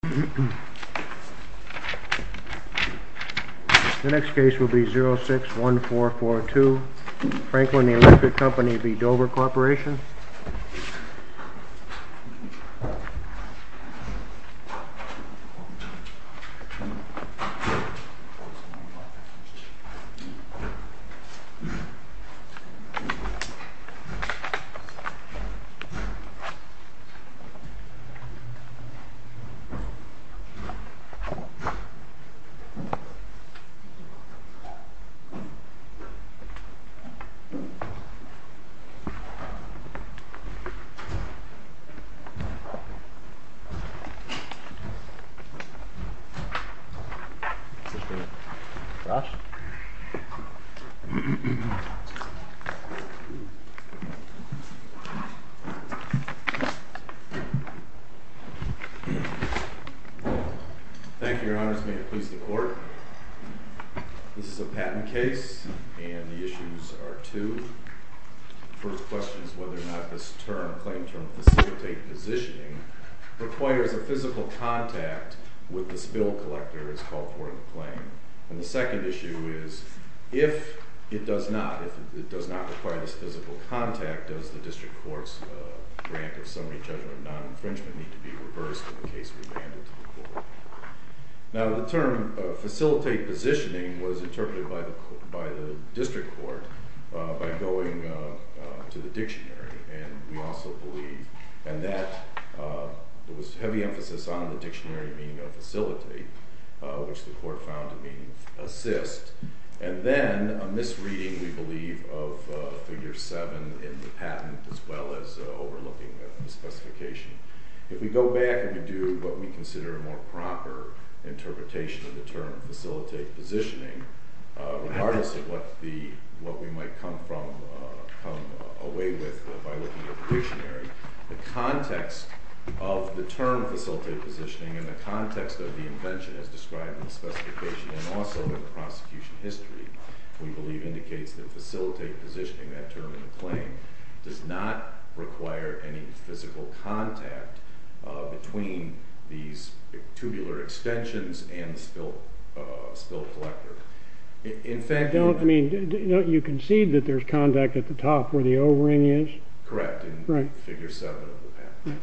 The next case will be 061442, Franklin Electric v. Dover Corp. The next case will be 061442, Franklin Electric v. Dover Corp. Thank you, Your Honors. May it please the Court. This is a patent case, and the issues are two. The first question is whether or not this claim term facilitate positioning requires a physical contact with the spill collector, as called for in the claim. And the second issue is, if it does not require this physical contact, does the District Court's grant of summary judgment of non-infringement need to be reversed in the case remanded to the Court? Now, the term facilitate positioning was interpreted by the District Court by going to the dictionary, and we also believe, and that, there was heavy emphasis on the dictionary meaning of facilitate, which the Court found to mean assist. And then a misreading, we believe, of Figure 7 in the patent as well as overlooking the specification. If we go back and we do what we consider a more proper interpretation of the term facilitate positioning, regardless of what we might come away with by looking at the dictionary, the context of the term facilitate positioning and the context of the invention as described in the specification and also in the prosecution history, we believe indicates that facilitate positioning, that term in the claim, does not require any physical contact between these tubular extensions and the spill collector. In fact... You concede that there's contact at the top where the O-ring is? Correct, in Figure 7 of the patent.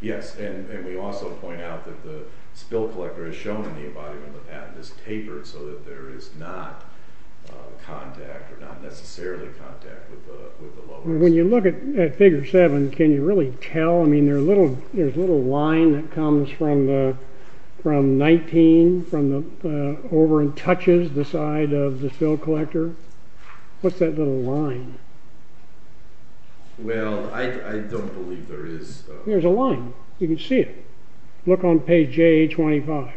Yes, and we also point out that the spill collector is shown in the body when the patent is tapered so that there is not contact or not necessarily contact with the lower... When you look at Figure 7, can you really tell? I mean, there's a little line that comes from 19, from the O-ring touches the side of the spill collector. What's that little line? Well, I don't believe there is... There's a line. You can see it. Look on page J825.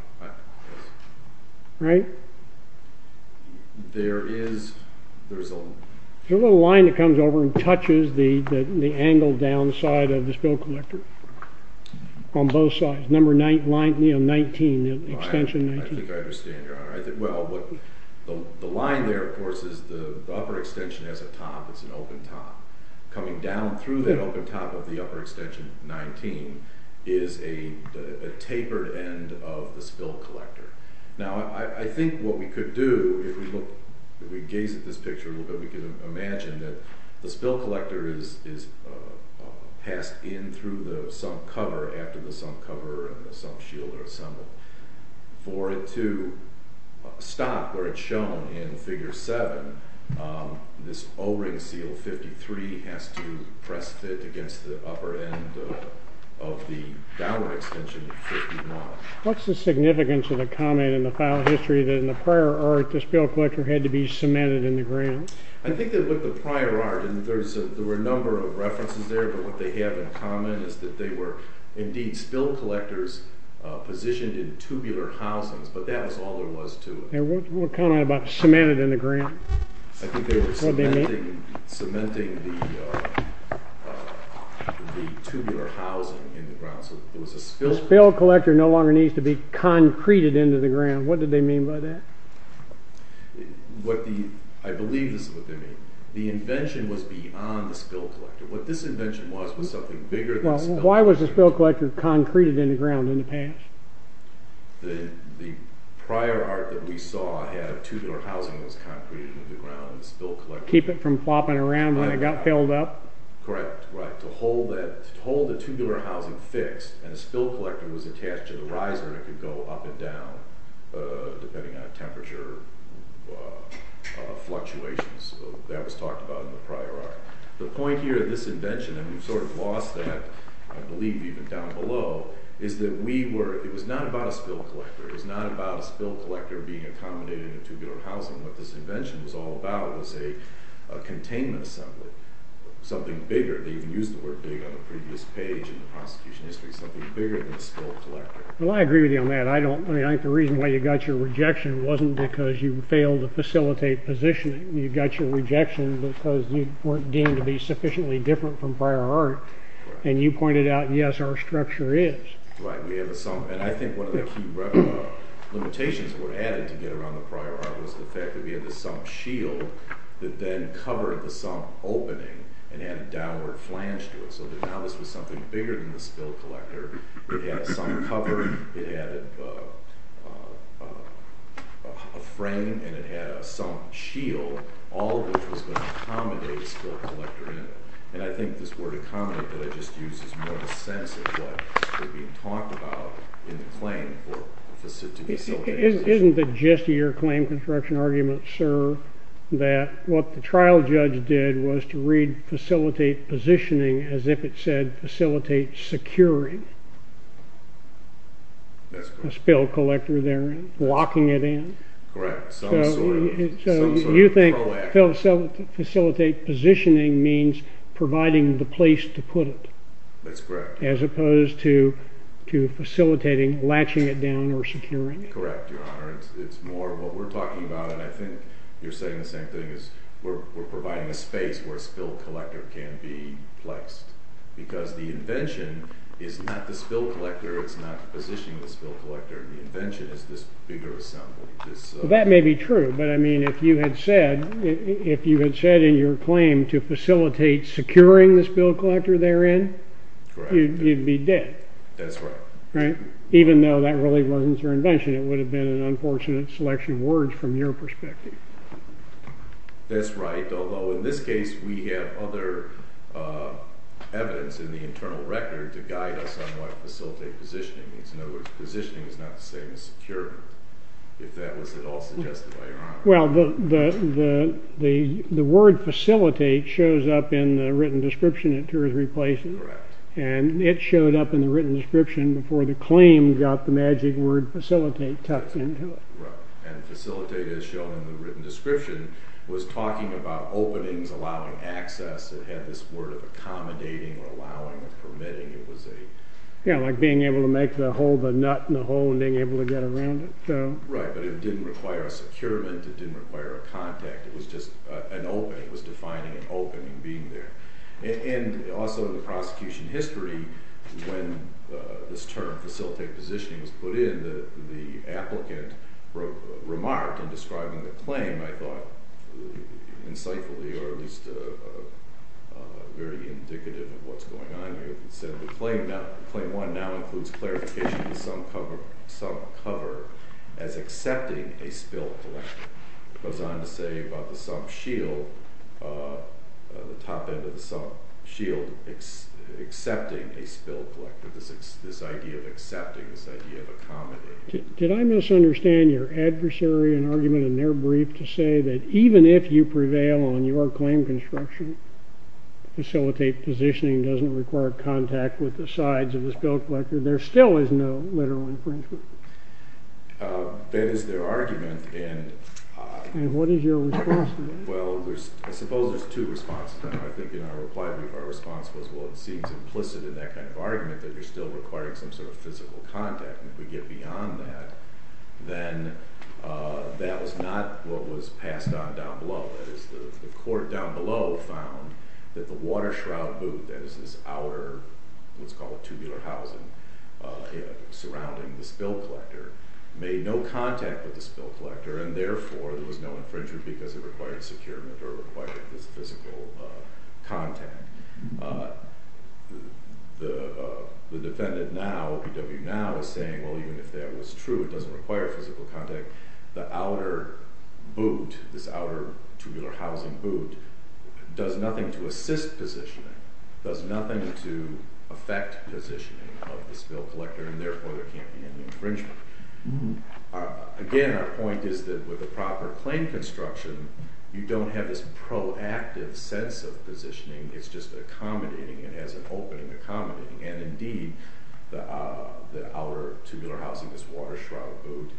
Right? There is... There's a little line that comes over and touches the angle down the side of the spill collector on both sides. Number 19, extension 19. I think I understand. The line there, of course, is the upper extension has a top. It's an open top. Coming down through that open top of the upper extension 19 is a tapered end of the spill collector. Now, I think what we could do, if we gaze at this picture a little bit, we could imagine that the spill collector is passed in through the sump cover after the sump cover and the sump shield are assembled. For it to stop where it's shown in Figure 7, this O-ring seal 53 has to press fit against the upper end of the downward extension. What's the significance of the comment in the file history that in the prior art, the spill collector had to be cemented in the ground? I think that with the prior art, and there were a number of references there, but what they have in common is that they were indeed spill collectors positioned in tubular housings, but that was all there was to it. What comment about cemented in the ground? I think they were cementing the tubular housing in the ground. The spill collector no longer needs to be concreted into the ground. What did they mean by that? I believe this is what they mean. The invention was beyond the spill collector. What this invention was was something bigger than the spill collector. Why was the spill collector concreted in the ground in the past? The prior art that we saw had tubular housing that was concreted in the ground. To keep it from flopping around when it got filled up? Correct. To hold the tubular housing fixed, and the spill collector was attached to the riser, it could go up and down depending on temperature fluctuations. That was talked about in the prior art. The point here in this invention, and we've sort of lost that, I believe even down below, is that it was not about a spill collector. It was not about a spill collector being accommodated in a tubular housing. What this invention was all about was a containment assembly. Something bigger. They even used the word big on the previous page in the prosecution history. Something bigger than a spill collector. I agree with you on that. I think the reason why you got your rejection wasn't because you failed to facilitate positioning. You got your rejection because you weren't deemed to be sufficiently different from prior art. And you pointed out, yes, our structure is. Right. We have a sump. And I think one of the key limitations that were added to get around the prior art was the fact that we had the sump shield that then covered the sump opening and had a downward flange to it. So now this was something bigger than the spill collector. It had a sump cover. It had a frame. And it had a sump shield, all of which was going to accommodate a spill collector in it. And I think this word accommodate that I just used is more the sense of what was being talked about in the claim to facilitate positioning. Isn't it just your claim construction argument, sir, that what the trial judge did was to read facilitate positioning as if it said facilitate securing a spill collector there and locking it in? Correct. So you think facilitate positioning means providing the place to put it. That's correct. As opposed to facilitating latching it down or securing it. Correct, Your Honor. It's more what we're talking about, and I think you're saying the same thing, is we're providing a space where a spill collector can be placed because the invention is not the spill collector. It's not the positioning of the spill collector. The invention is this bigger sump. That may be true, but, I mean, if you had said in your claim to facilitate securing the spill collector therein, you'd be dead. That's right. Right? Even though that really wasn't your invention. It would have been an unfortunate selection of words from your perspective. That's right, although in this case we have other evidence in the internal record to guide us on what facilitate positioning means. In other words, positioning is not the same as securing. If that was at all suggested by Your Honor. Well, the word facilitate shows up in the written description at two or three places. Correct. And it showed up in the written description before the claim got the magic word facilitate tucked into it. Right, and facilitate is shown in the written description. It was talking about openings allowing access. It had this word of accommodating or allowing or permitting. Yeah, like being able to make the hole the nut in the hole and being able to get around it. Right, but it didn't require a securement. It didn't require a contact. It was just an opening. It was defining an opening, being there. And also in the prosecution history, when this term facilitate positioning was put in, the applicant remarked in describing the claim, I thought, insightfully or at least very indicative of what's going on here. He said, the claim now, Claim 1 now includes clarification of the sum cover as accepting a spill collector. It goes on to say about the sum shield, the top end of the sum shield, accepting a spill collector, this idea of accepting, this idea of accommodating. Did I misunderstand your adversary in argument in their brief to say that even if you prevail on your claim construction, facilitate positioning, doesn't require contact with the sides of the spill collector, there still is no literal infringement? That is their argument. And what is your response to that? Well, I suppose there's two responses. I think in our reply brief, our response was, well, it seems implicit in that kind of argument that you're still requiring some sort of physical contact. And if we get beyond that, then that was not what was passed on down below. That is, the court down below found that the water shroud boot, that is this outer what's called tubular housing surrounding the spill collector, made no contact with the spill collector, and therefore there was no infringement because it required securement or required this physical contact. The defendant now, OPW now, is saying, well, even if that was true, it doesn't require physical contact. The outer boot, this outer tubular housing boot, does nothing to assist positioning, does nothing to affect positioning of the spill collector, and therefore there can't be any infringement. Again, our point is that with a proper claim construction, you don't have this proactive sense of positioning. It's just accommodating. It has an opening accommodating. And indeed, the outer tubular housing, this water shroud boot,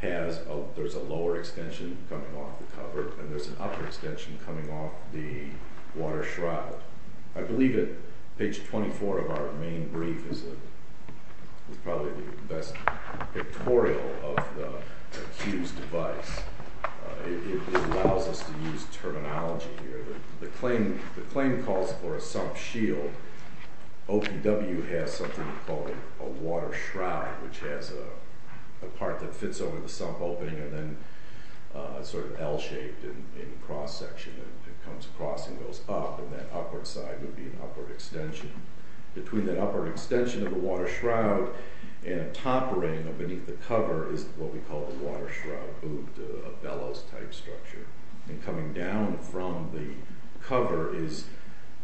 there's a lower extension coming off the cover, and there's an upper extension coming off the water shroud. I believe at page 24 of our main brief, this is probably the best pictorial of the accused device, it allows us to use terminology here. The claim calls for a sump shield. OPW has something called a water shroud, which has a part that fits over the sump opening and then is sort of L-shaped in cross-section. It comes across and goes up, and that upward side would be an upward extension. Between that upward extension of the water shroud and a top ring beneath the cover is what we call the water shroud boot, a bellows-type structure. And coming down from the cover is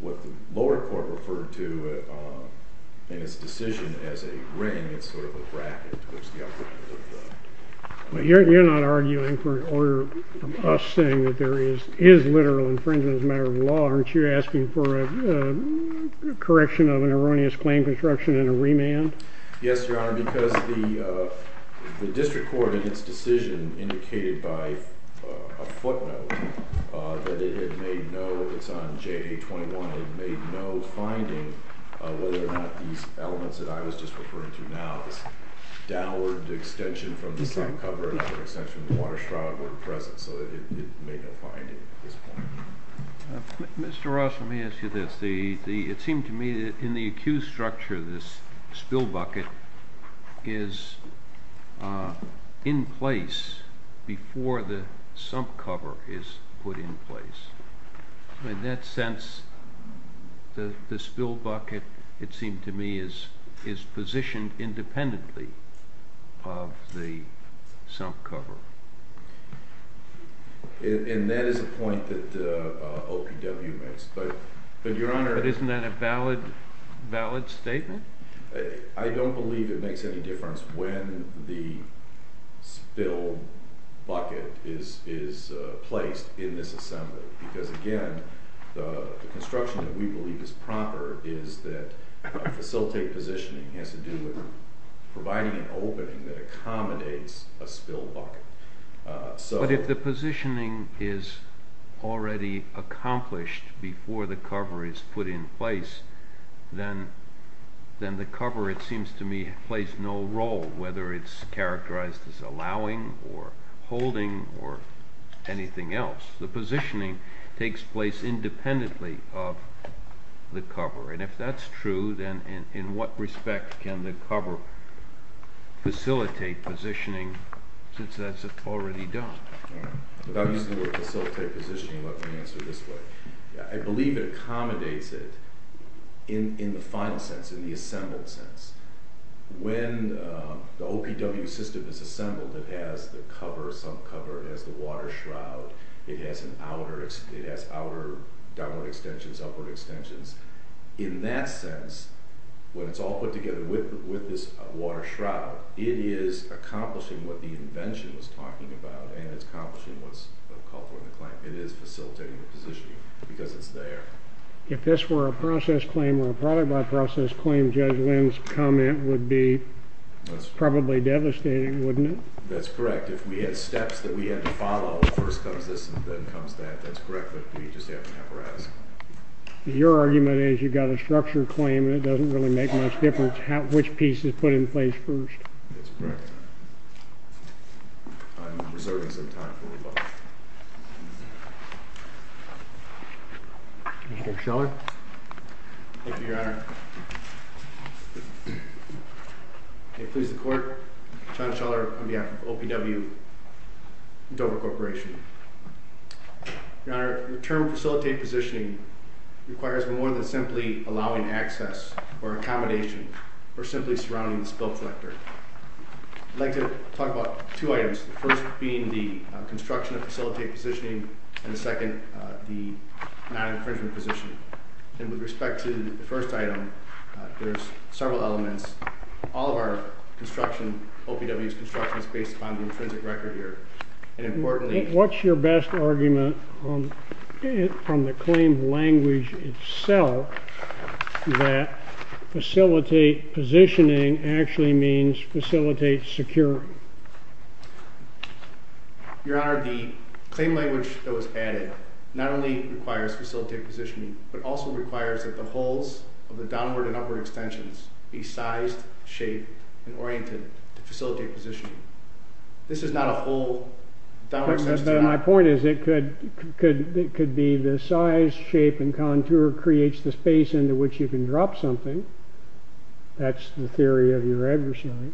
what the lower court referred to in its decision as a ring. It's sort of a bracket towards the upper end of the cover. You're not arguing for an order from us saying that there is literal infringement as a matter of law. Aren't you asking for a correction of an erroneous claim construction and a remand? Yes, Your Honor, because the district court in its decision indicated by a footnote that it made no, it's on JA-21, it made no finding whether or not these elements that I was just referring to now, this downward extension from the sump cover and upward extension of the water shroud were present. So it made no finding at this point. Mr. Ross, let me ask you this. It seemed to me that in the accused structure, this spill bucket is in place before the sump cover is put in place. In that sense, the spill bucket, it seemed to me, is positioned independently of the sump cover. And that is a point that OPW makes. But isn't that a valid statement? I don't believe it makes any difference when the spill bucket is placed in this assembly. Because again, the construction that we believe is proper is that facilitate positioning has to do with providing an opening that accommodates a spill bucket. But if the positioning is already accomplished before the cover is put in place, then the cover, it seems to me, plays no role, whether it's characterized as allowing or holding or anything else. The positioning takes place independently of the cover. And if that's true, then in what respect can the cover facilitate positioning since that's already done? Without using the word facilitate positioning, let me answer this way. I believe it accommodates it in the final sense, in the assembled sense. When the OPW system is assembled, it has the cover, sump cover. It has the water shroud. It has outer downward extensions, upward extensions. In that sense, when it's all put together with this water shroud, it is accomplishing what the invention was talking about and it's accomplishing what's called for in the claim. It is facilitating the positioning because it's there. If this were a process claim or a product by process claim, Judge Lynn's comment would be probably devastating, wouldn't it? That's correct. If we had steps that we had to follow, first comes this and then comes that, that's correct. But we just have to have a risk. Your argument is you've got a structured claim and it doesn't really make much difference which piece is put in place first. That's correct. I'm reserving some time for rebuttal. Mr. Scheller. Thank you, Your Honor. May it please the court, John Scheller, on behalf of OPW, Dover Corporation. Your Honor, the term facilitate positioning requires more than simply allowing access or accommodation or simply surrounding the spill collector. I'd like to talk about two items, the first being the construction of facilitate positioning and the second the non-infringement positioning. And with respect to the first item, there's several elements. All of our construction, OPW's construction, is based upon the intrinsic record here. And importantly... What's your best argument from the claim language itself that facilitate positioning actually means facilitate securing? Your Honor, the claim language that was added not only requires facilitate positioning but also requires that the holes of the downward and upward extensions be sized, shaped, and oriented to facilitate positioning. This is not a whole downward extension. But my point is it could be the size, shape, and contour creates the space into which you can drop something. That's the theory of your adversary.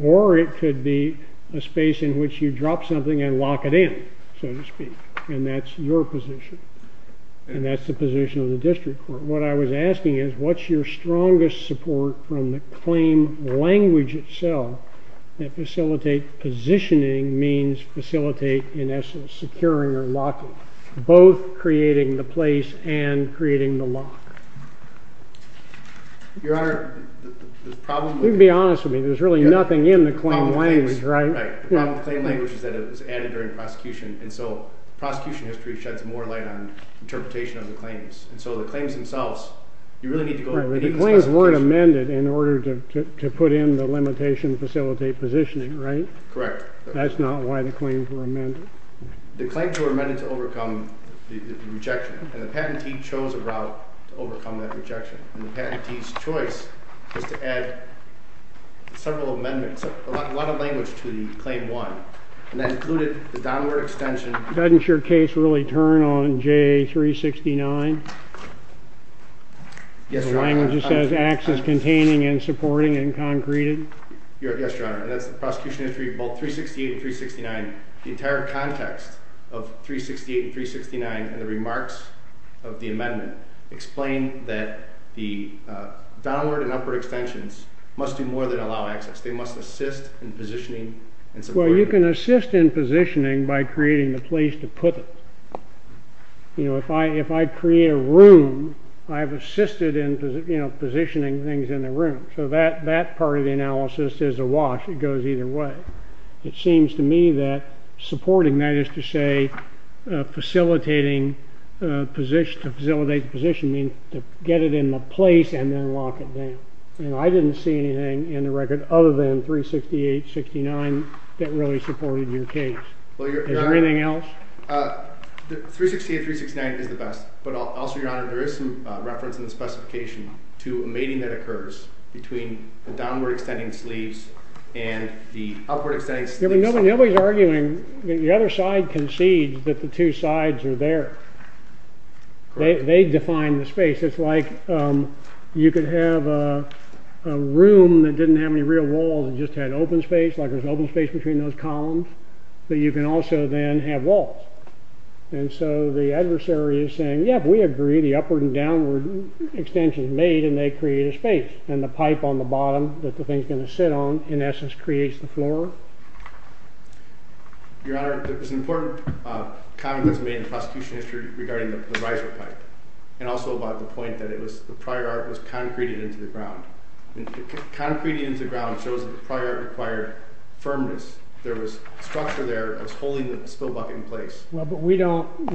Or it could be a space in which you drop something and lock it in, so to speak. And that's your position. And that's the position of the district court. What I was asking is what's your strongest support from the claim language itself that facilitate positioning means facilitate, in essence, securing or locking, both creating the place and creating the lock? Your Honor, the problem with... You can be honest with me. There's really nothing in the claim language, right? Right. The problem with the claim language is that it was added during prosecution. And so prosecution history sheds more light on interpretation of the claims. And so the claims themselves, you really need to go... The claims weren't amended in order to put in the limitation facilitate positioning, right? Correct. That's not why the claims were amended. The claims were amended to overcome the rejection. And the patentee chose a route to overcome that rejection. And the patentee's choice was to add several amendments, a lot of language to the Claim 1. And that included the downward extension... Doesn't your case really turn on JA 369? Yes, Your Honor. The language that says, acts as containing and supporting and concreted? Yes, Your Honor. And that's the prosecution history of both 368 and 369. The entire context of 368 and 369 and the remarks of the amendment explain that the downward and upward extensions must do more than allow access. They must assist in positioning and supporting. Well, you can assist in positioning by creating the place to put it. You know, if I create a room, I have assisted in positioning things in the room. So that part of the analysis is a wash. It goes either way. It seems to me that supporting, that is to say, facilitating to facilitate the positioning, to get it in the place and then lock it down. I didn't see anything in the record other than 368, 369 that really supported your case. Is there anything else? 368, 369 is the best. But also, Your Honor, there is some reference in the specification to a mating that occurs between the downward-extending sleeves and the upward-extending sleeves. Nobody's arguing. The other side concedes that the two sides are there. They define the space. It's like you could have a room and just had open space, like there's open space between those columns, but you can also then have walls. And so the adversary is saying, yeah, we agree, the upward and downward extension is made, and they create a space. And the pipe on the bottom that the thing's going to sit on in essence creates the floor. Your Honor, there was an important comment that was made in the prosecution history regarding the riser pipe and also about the point that it was, the prior art was concreted into the ground. Concrete into the ground shows that the prior art required firmness. There was a structure there that was holding the spill bucket in place. Well, but we don't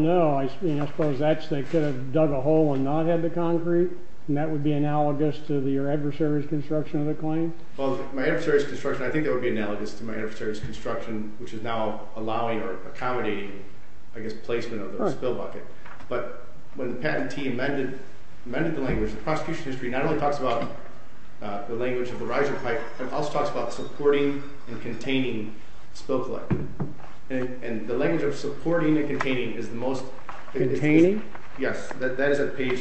know. I mean, I suppose that's, they could have dug a hole and not had the concrete, and that would be analogous to your adversary's construction of the claim? Well, my adversary's construction, I think that would be analogous to my adversary's construction, which is now allowing or accommodating, I guess, placement of the spill bucket. But when the patentee amended the language, the prosecution history not only talks about the language of the riser pipe, it also talks about supporting and containing spill collector. And the language of supporting and containing is the most... Containing? Yes. That is at page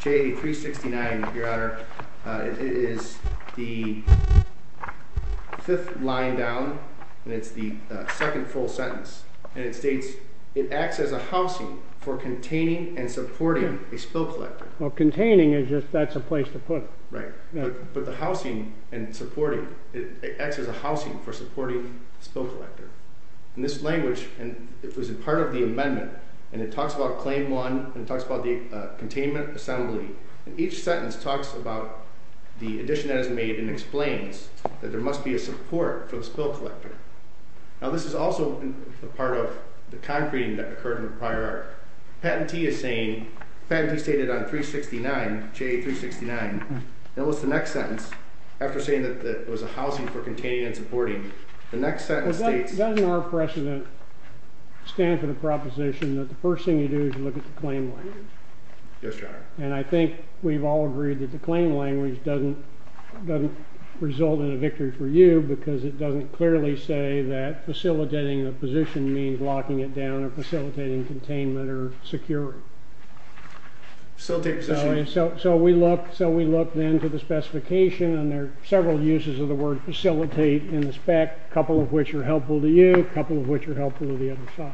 J369, Your Honor. It is the fifth line down, and it's the second full sentence. And it states, it acts as a housing for containing and supporting a spill collector. Well, containing is just, that's a place to put it. Right. But the housing and supporting, it acts as a housing for supporting a spill collector. And this language, and it was a part of the amendment, and it talks about Claim 1, and it talks about the containment assembly, and each sentence talks about the addition that is made and explains that there must be a support for the spill collector. Now, this is also a part of the concreting that occurred in the prior art. Patentee is saying, patentee stated on 369, J369, and what's the next sentence? After saying that it was a housing for containing and supporting, the next sentence states... Doesn't our precedent stand for the proposition that the first thing you do is you look at the claim language? Yes, Your Honor. And I think we've all agreed that the claim language doesn't result in a victory for you because it doesn't clearly say that facilitating a position means locking it down or facilitating containment or security. Facilitate position? So we look then to the specification, and there are several uses of the word facilitate in the spec, a couple of which are helpful to you, a couple of which are helpful to the other side.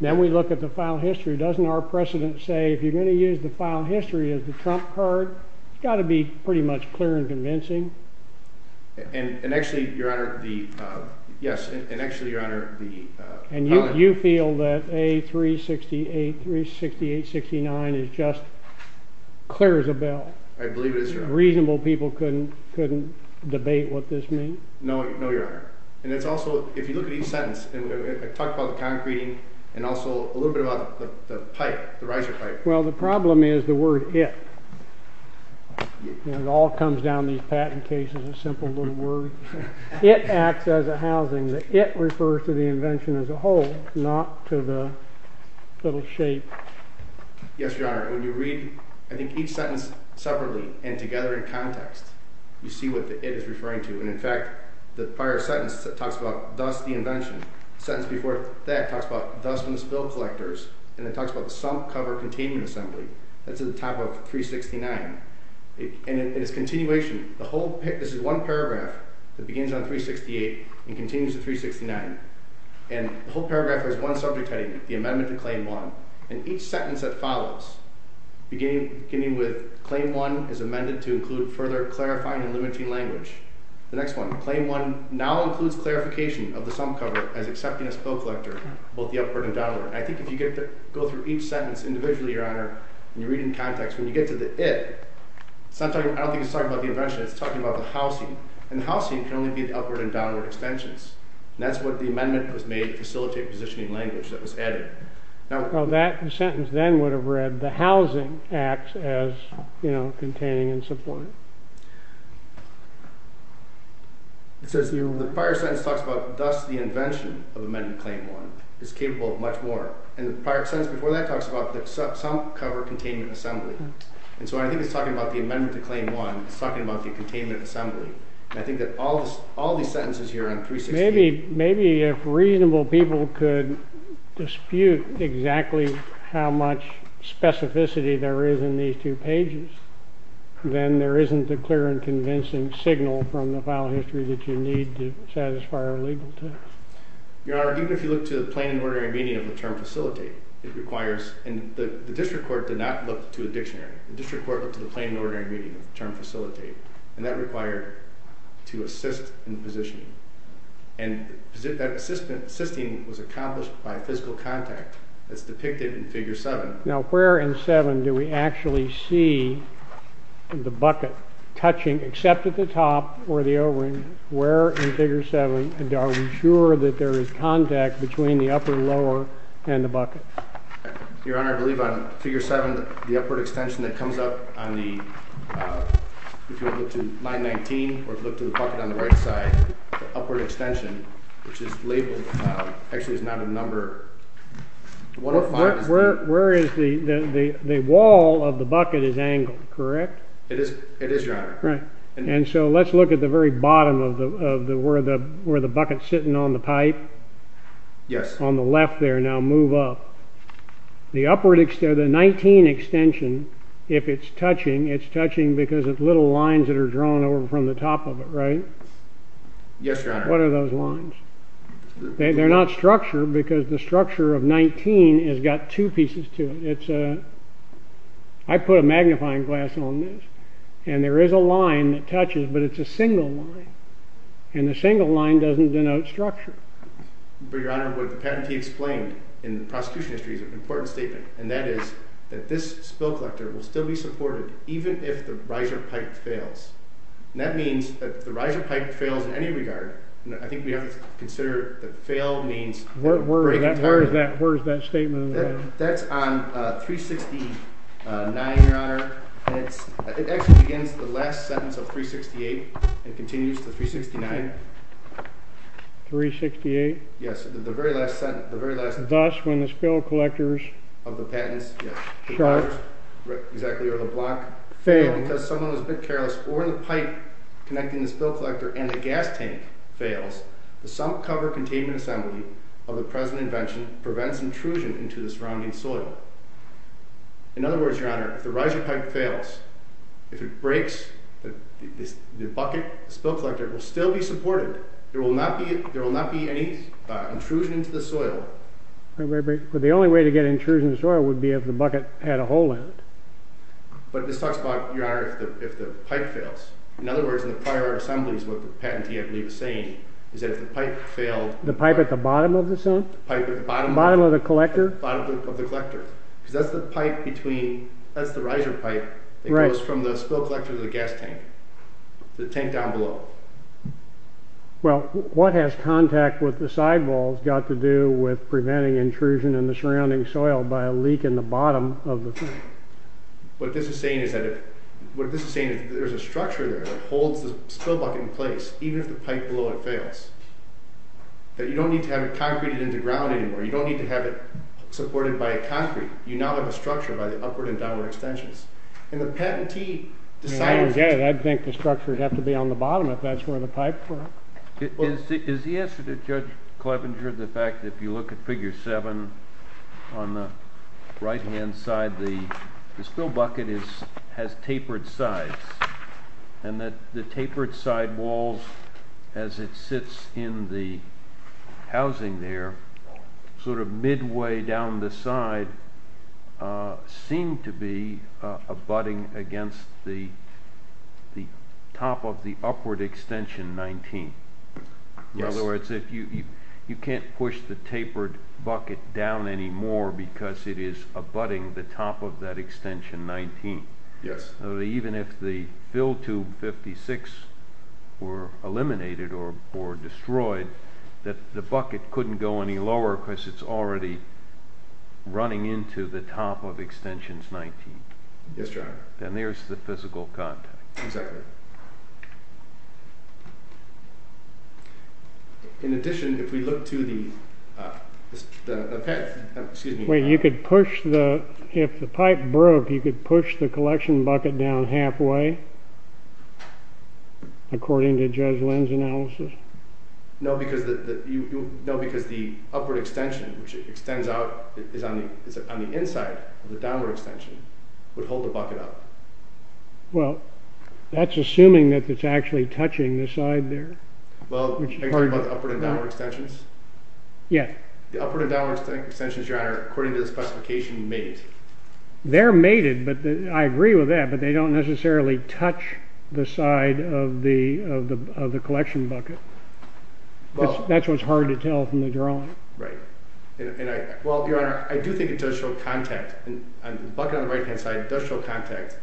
Then we look at the file history. Doesn't our precedent say if you're going to use the file history as the trump card, it's got to be pretty much clear and convincing? And actually, Your Honor, the... Yes, and actually, Your Honor, the... And you feel that A368, 368, 69 is just clear as a bell? I believe it is, Your Honor. Reasonable people couldn't debate what this means? No, Your Honor. And it's also, if you look at each sentence, I talk about the concrete and also a little bit about the pipe, the riser pipe. Well, the problem is the word it. It all comes down to these patent cases, a simple little word. It acts as a housing. The it refers to the invention as a whole, not to the little shape. Yes, Your Honor. When you read, I think, each sentence separately and together in context, you see what the it is referring to. And in fact, the prior sentence talks about, thus, the invention. The sentence before that talks about, thus, from the spill collectors. And it talks about the sump cover containment assembly. That's at the top of 369. And in its continuation, this is one paragraph that begins on 368 and continues to 369. And the whole paragraph has one subject heading, the amendment to Claim 1. And each sentence that follows, beginning with, Claim 1 is amended to include further clarifying and limiting language. The next one, Claim 1 now includes clarification of the sump cover as accepting a spill collector, both the upward and downward. And I think if you go through each sentence individually, Your Honor, and you read in context, when you get to the it, I don't think it's talking about the invention. It's talking about the housing. And the housing can only be the upward and downward extensions. And that's what the amendment was made to facilitate positioning language that was added. Well, that sentence then would have read the housing acts as, you know, containing and supporting. It says here, the prior sentence talks about thus the invention of Amendment Claim 1 is capable of much more. And the prior sentence before that talks about the sump cover containing an assembly. And so I think it's talking about the amendment to Claim 1. It's talking about the containment assembly. And I think that all these sentences here on 368... Maybe if reasonable people could dispute exactly how much specificity there is in these two pages, then there isn't a clear and convincing signal from the file history that you need to satisfy a legal test. Your Honor, even if you look to the plain and ordinary meaning of the term facilitate, it requires... And the district court did not look to a dictionary. The district court looked to the plain and ordinary meaning of the term facilitate. And that required to assist in positioning. And that assisting was accomplished by physical contact as depicted in Figure 7. Now, where in 7 do we actually see the bucket touching, except at the top or the O-ring, where in Figure 7 are we sure that there is contact between the upper lower and the bucket? Your Honor, I believe on Figure 7 the upward extension that comes up on the... If you look to line 19 or look to the bucket on the right side, the upward extension, which is labeled... Actually, it's not a number. Where is the... The wall of the bucket is angled, correct? It is, Your Honor. And so let's look at the very bottom of where the bucket's sitting on the pipe. Yes. On the left there, now move up. The upward extension, the 19 extension, if it's touching, it's touching because of little lines that are drawn over from the top of it, right? Yes, Your Honor. What are those lines? They're not structure because the structure of 19 has got two pieces to it. It's a... I put a magnifying glass on this, and there is a line that touches, but it's a single line. And the single line doesn't denote structure. But, Your Honor, what the patentee explained in the prosecution history is an important statement, and that is that this spill collector will still be supported even if the riser pipe fails. And that means that if the riser pipe fails in any regard, I think we have to consider that fail means... Where is that statement? That's on 369, Your Honor. It actually begins the last sentence of 368 and continues to 369. 368? Yes, the very last sentence. Thus, when the spill collectors... Of the patents, yes. Exactly, or the block... Fail. Because someone was a bit careless or the pipe connecting the spill collector and the gas tank fails, the sump cover containment assembly of the present invention prevents intrusion into the surrounding soil. In other words, Your Honor, if the riser pipe fails, if it breaks, the bucket spill collector will still be supported. There will not be any intrusion into the soil. But the only way to get intrusion into the soil would be if the bucket had a hole in it. But this talks about, Your Honor, if the pipe fails. In other words, in the prior assemblies, what the patentee, I believe, is saying, is that if the pipe failed... The pipe at the bottom of the sump? The pipe at the bottom... Bottom of the collector? Bottom of the collector. Because that's the pipe between... That's the riser pipe that goes from the spill collector to the gas tank. The tank down below. Well, what has contact with the sidewalls got to do with preventing intrusion in the surrounding soil by a leak in the bottom of the thing? What this is saying is that if... What this is saying is that there's a structure there that holds the spill bucket in place even if the pipe below it fails. That you don't need to have it concreted into ground anymore. You don't need to have it supported by a concrete. You now have a structure by the upward and downward extensions. And the patentee decided... Your Honor, I think the structures have to be on the bottom if that's where the pipes were. Is the answer to Judge Clevenger the fact that if you look at Figure 7 on the right-hand side, the spill bucket has tapered sides and that the tapered sidewalls as it sits in the housing there sort of midway down the side seem to be abutting against the top of the upward extension 19. In other words, you can't push the tapered bucket down anymore because it is abutting the top of that extension 19. Yes. Even if the fill tube 56 were eliminated or destroyed, the bucket couldn't go any lower because it's already running into the top of extensions 19. Yes, Your Honor. And there's the physical contact. Exactly. In addition, if we look to the... Excuse me. You could push the... If the pipe broke, you could push the collection bucket down halfway according to Judge Lin's analysis. No, because the... No, because the upward extension which extends out is on the inside of the downward extension would hold the bucket up. Well, that's assuming that it's actually touching the side there. Well, are you talking about the upward and downward extensions? Yes. The upward and downward extensions, Your Honor, according to the specification, mate. They're mated, but I agree with that, but they don't necessarily touch the side of the collection bucket. That's what's hard to tell from the drawing. Right. Well, Your Honor, I do think it does show contact. The bucket on the right-hand side does show contact.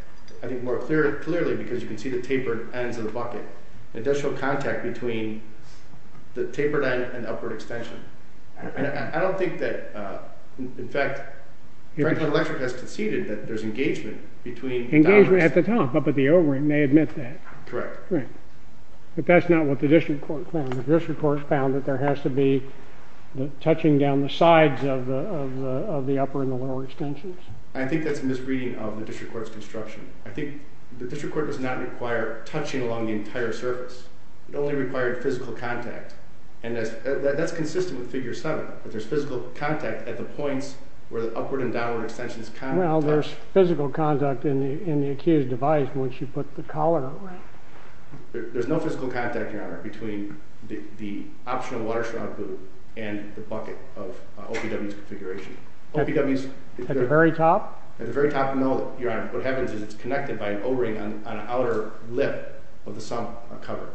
I think more clearly because you can see the tapered ends of the bucket. It does show contact between the tapered end and upward extension. I don't think that that's what the district court found. In fact, Franklin Electric has conceded that there's engagement between downwards. Engagement at the top, up at the overing. They admit that. Correct. Right. But that's not what the district court found. The district court found that there has to be touching down the sides of the upper and the lower extensions. I think that's a misreading of the district court's construction. I think the district court does not require touching along the entire surface. It only required physical contact. That's consistent with Figure 7. There's physical contact at the points where the upward and downward extensions contact. Well, there's physical contact in the accused device once you put the collar over it. There's no physical contact, Your Honor, between the optional water shroud boot and the bucket of OPW's configuration. OPW's... At the very top? At the very top. No, Your Honor. What happens is it's connected by an o-ring on the outer lip of the sump. by a cover.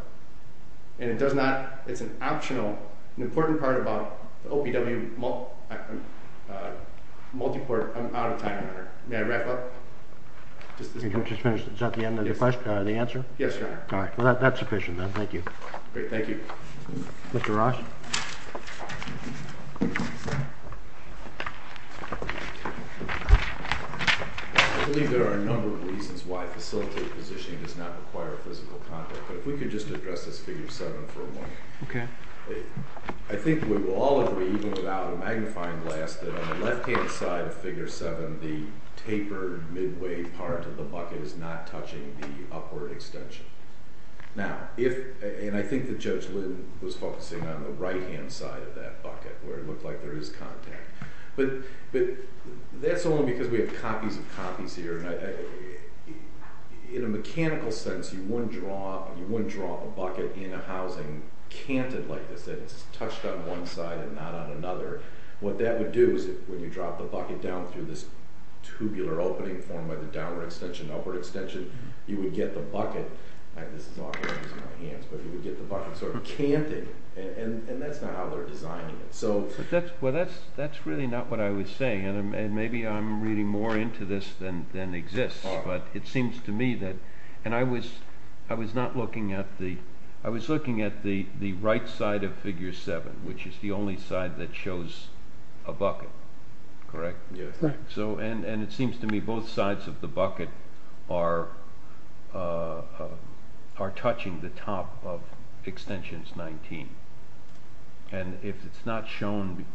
And it does not... It's an optional... An important part about the OPW multi-port... I'm out of time, Your Honor. May I wrap up? Is that the end of the question, the answer? Yes, Your Honor. All right. Well, that's sufficient then. Thank you. Great. Thank you. Mr. Ross? I believe there are a number of reasons why facilitated positioning does not require physical contact, but if we could just address this Figure 7 for a moment. Okay. I think we will all agree, even without a magnifying glass, that on the left-hand side of Figure 7, the tapered midway part of the bucket is not touching the upward extension. Now, if... And I think that Judge Lynn was focusing on the right-hand side of that bucket where it looked like there is contact. But that's only because we have not been able to draw a bucket in a housing canted like this, that it's touched on one side and not on another. What that would do is when you drop the bucket down through this tubular opening formed by the downward extension and upward extension, you would get the bucket, and this is not going to be in my hands, but you would get the bucket sort of canted and that's not how they're designing it. Well, that's interesting. I was not looking at the... I was looking at the right side of figure seven, which is the only side that shows a bucket, correct? Correct. And it seems to me both sides of the bucket are touching the top of extensions 19. And if it's not shown,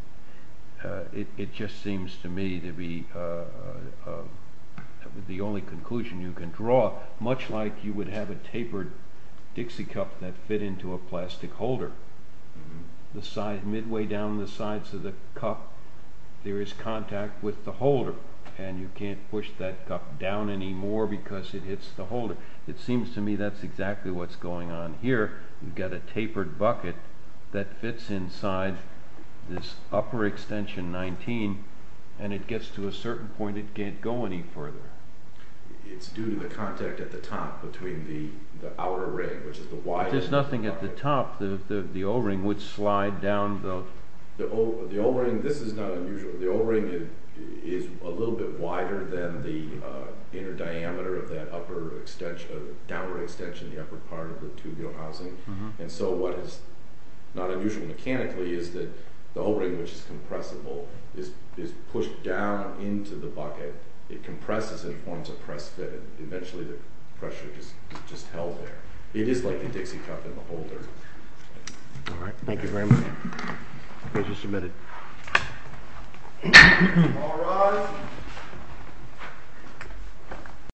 it just seems to me to be the only conclusion you can draw, much like you would have a tapered Dixie Cup that fit into a plastic holder. Midway down the sides of the cup, there is contact with the holder, and you can't push that cup down anymore because it hits the holder. It seems to me that's exactly what's going on here. You've got a tapered bucket that fits inside this upper extension 19, and it gets to a certain point it can't go any further. It's due to the contact at the top between the outer ring, which is the wider... There's nothing at the top. The O-ring would slide down the... The O-ring, this is not unusual. The O-ring is a little bit wider than the inner diameter of that upper extension, the downward extension of the upper part of the tubular housing. And so what is not when the O-ring slides into the bucket, it compresses and forms a press fit, and eventually the pressure is just held there. It is like the Dixie Cup in the holder. All right. Thank you very much. The case is submitted.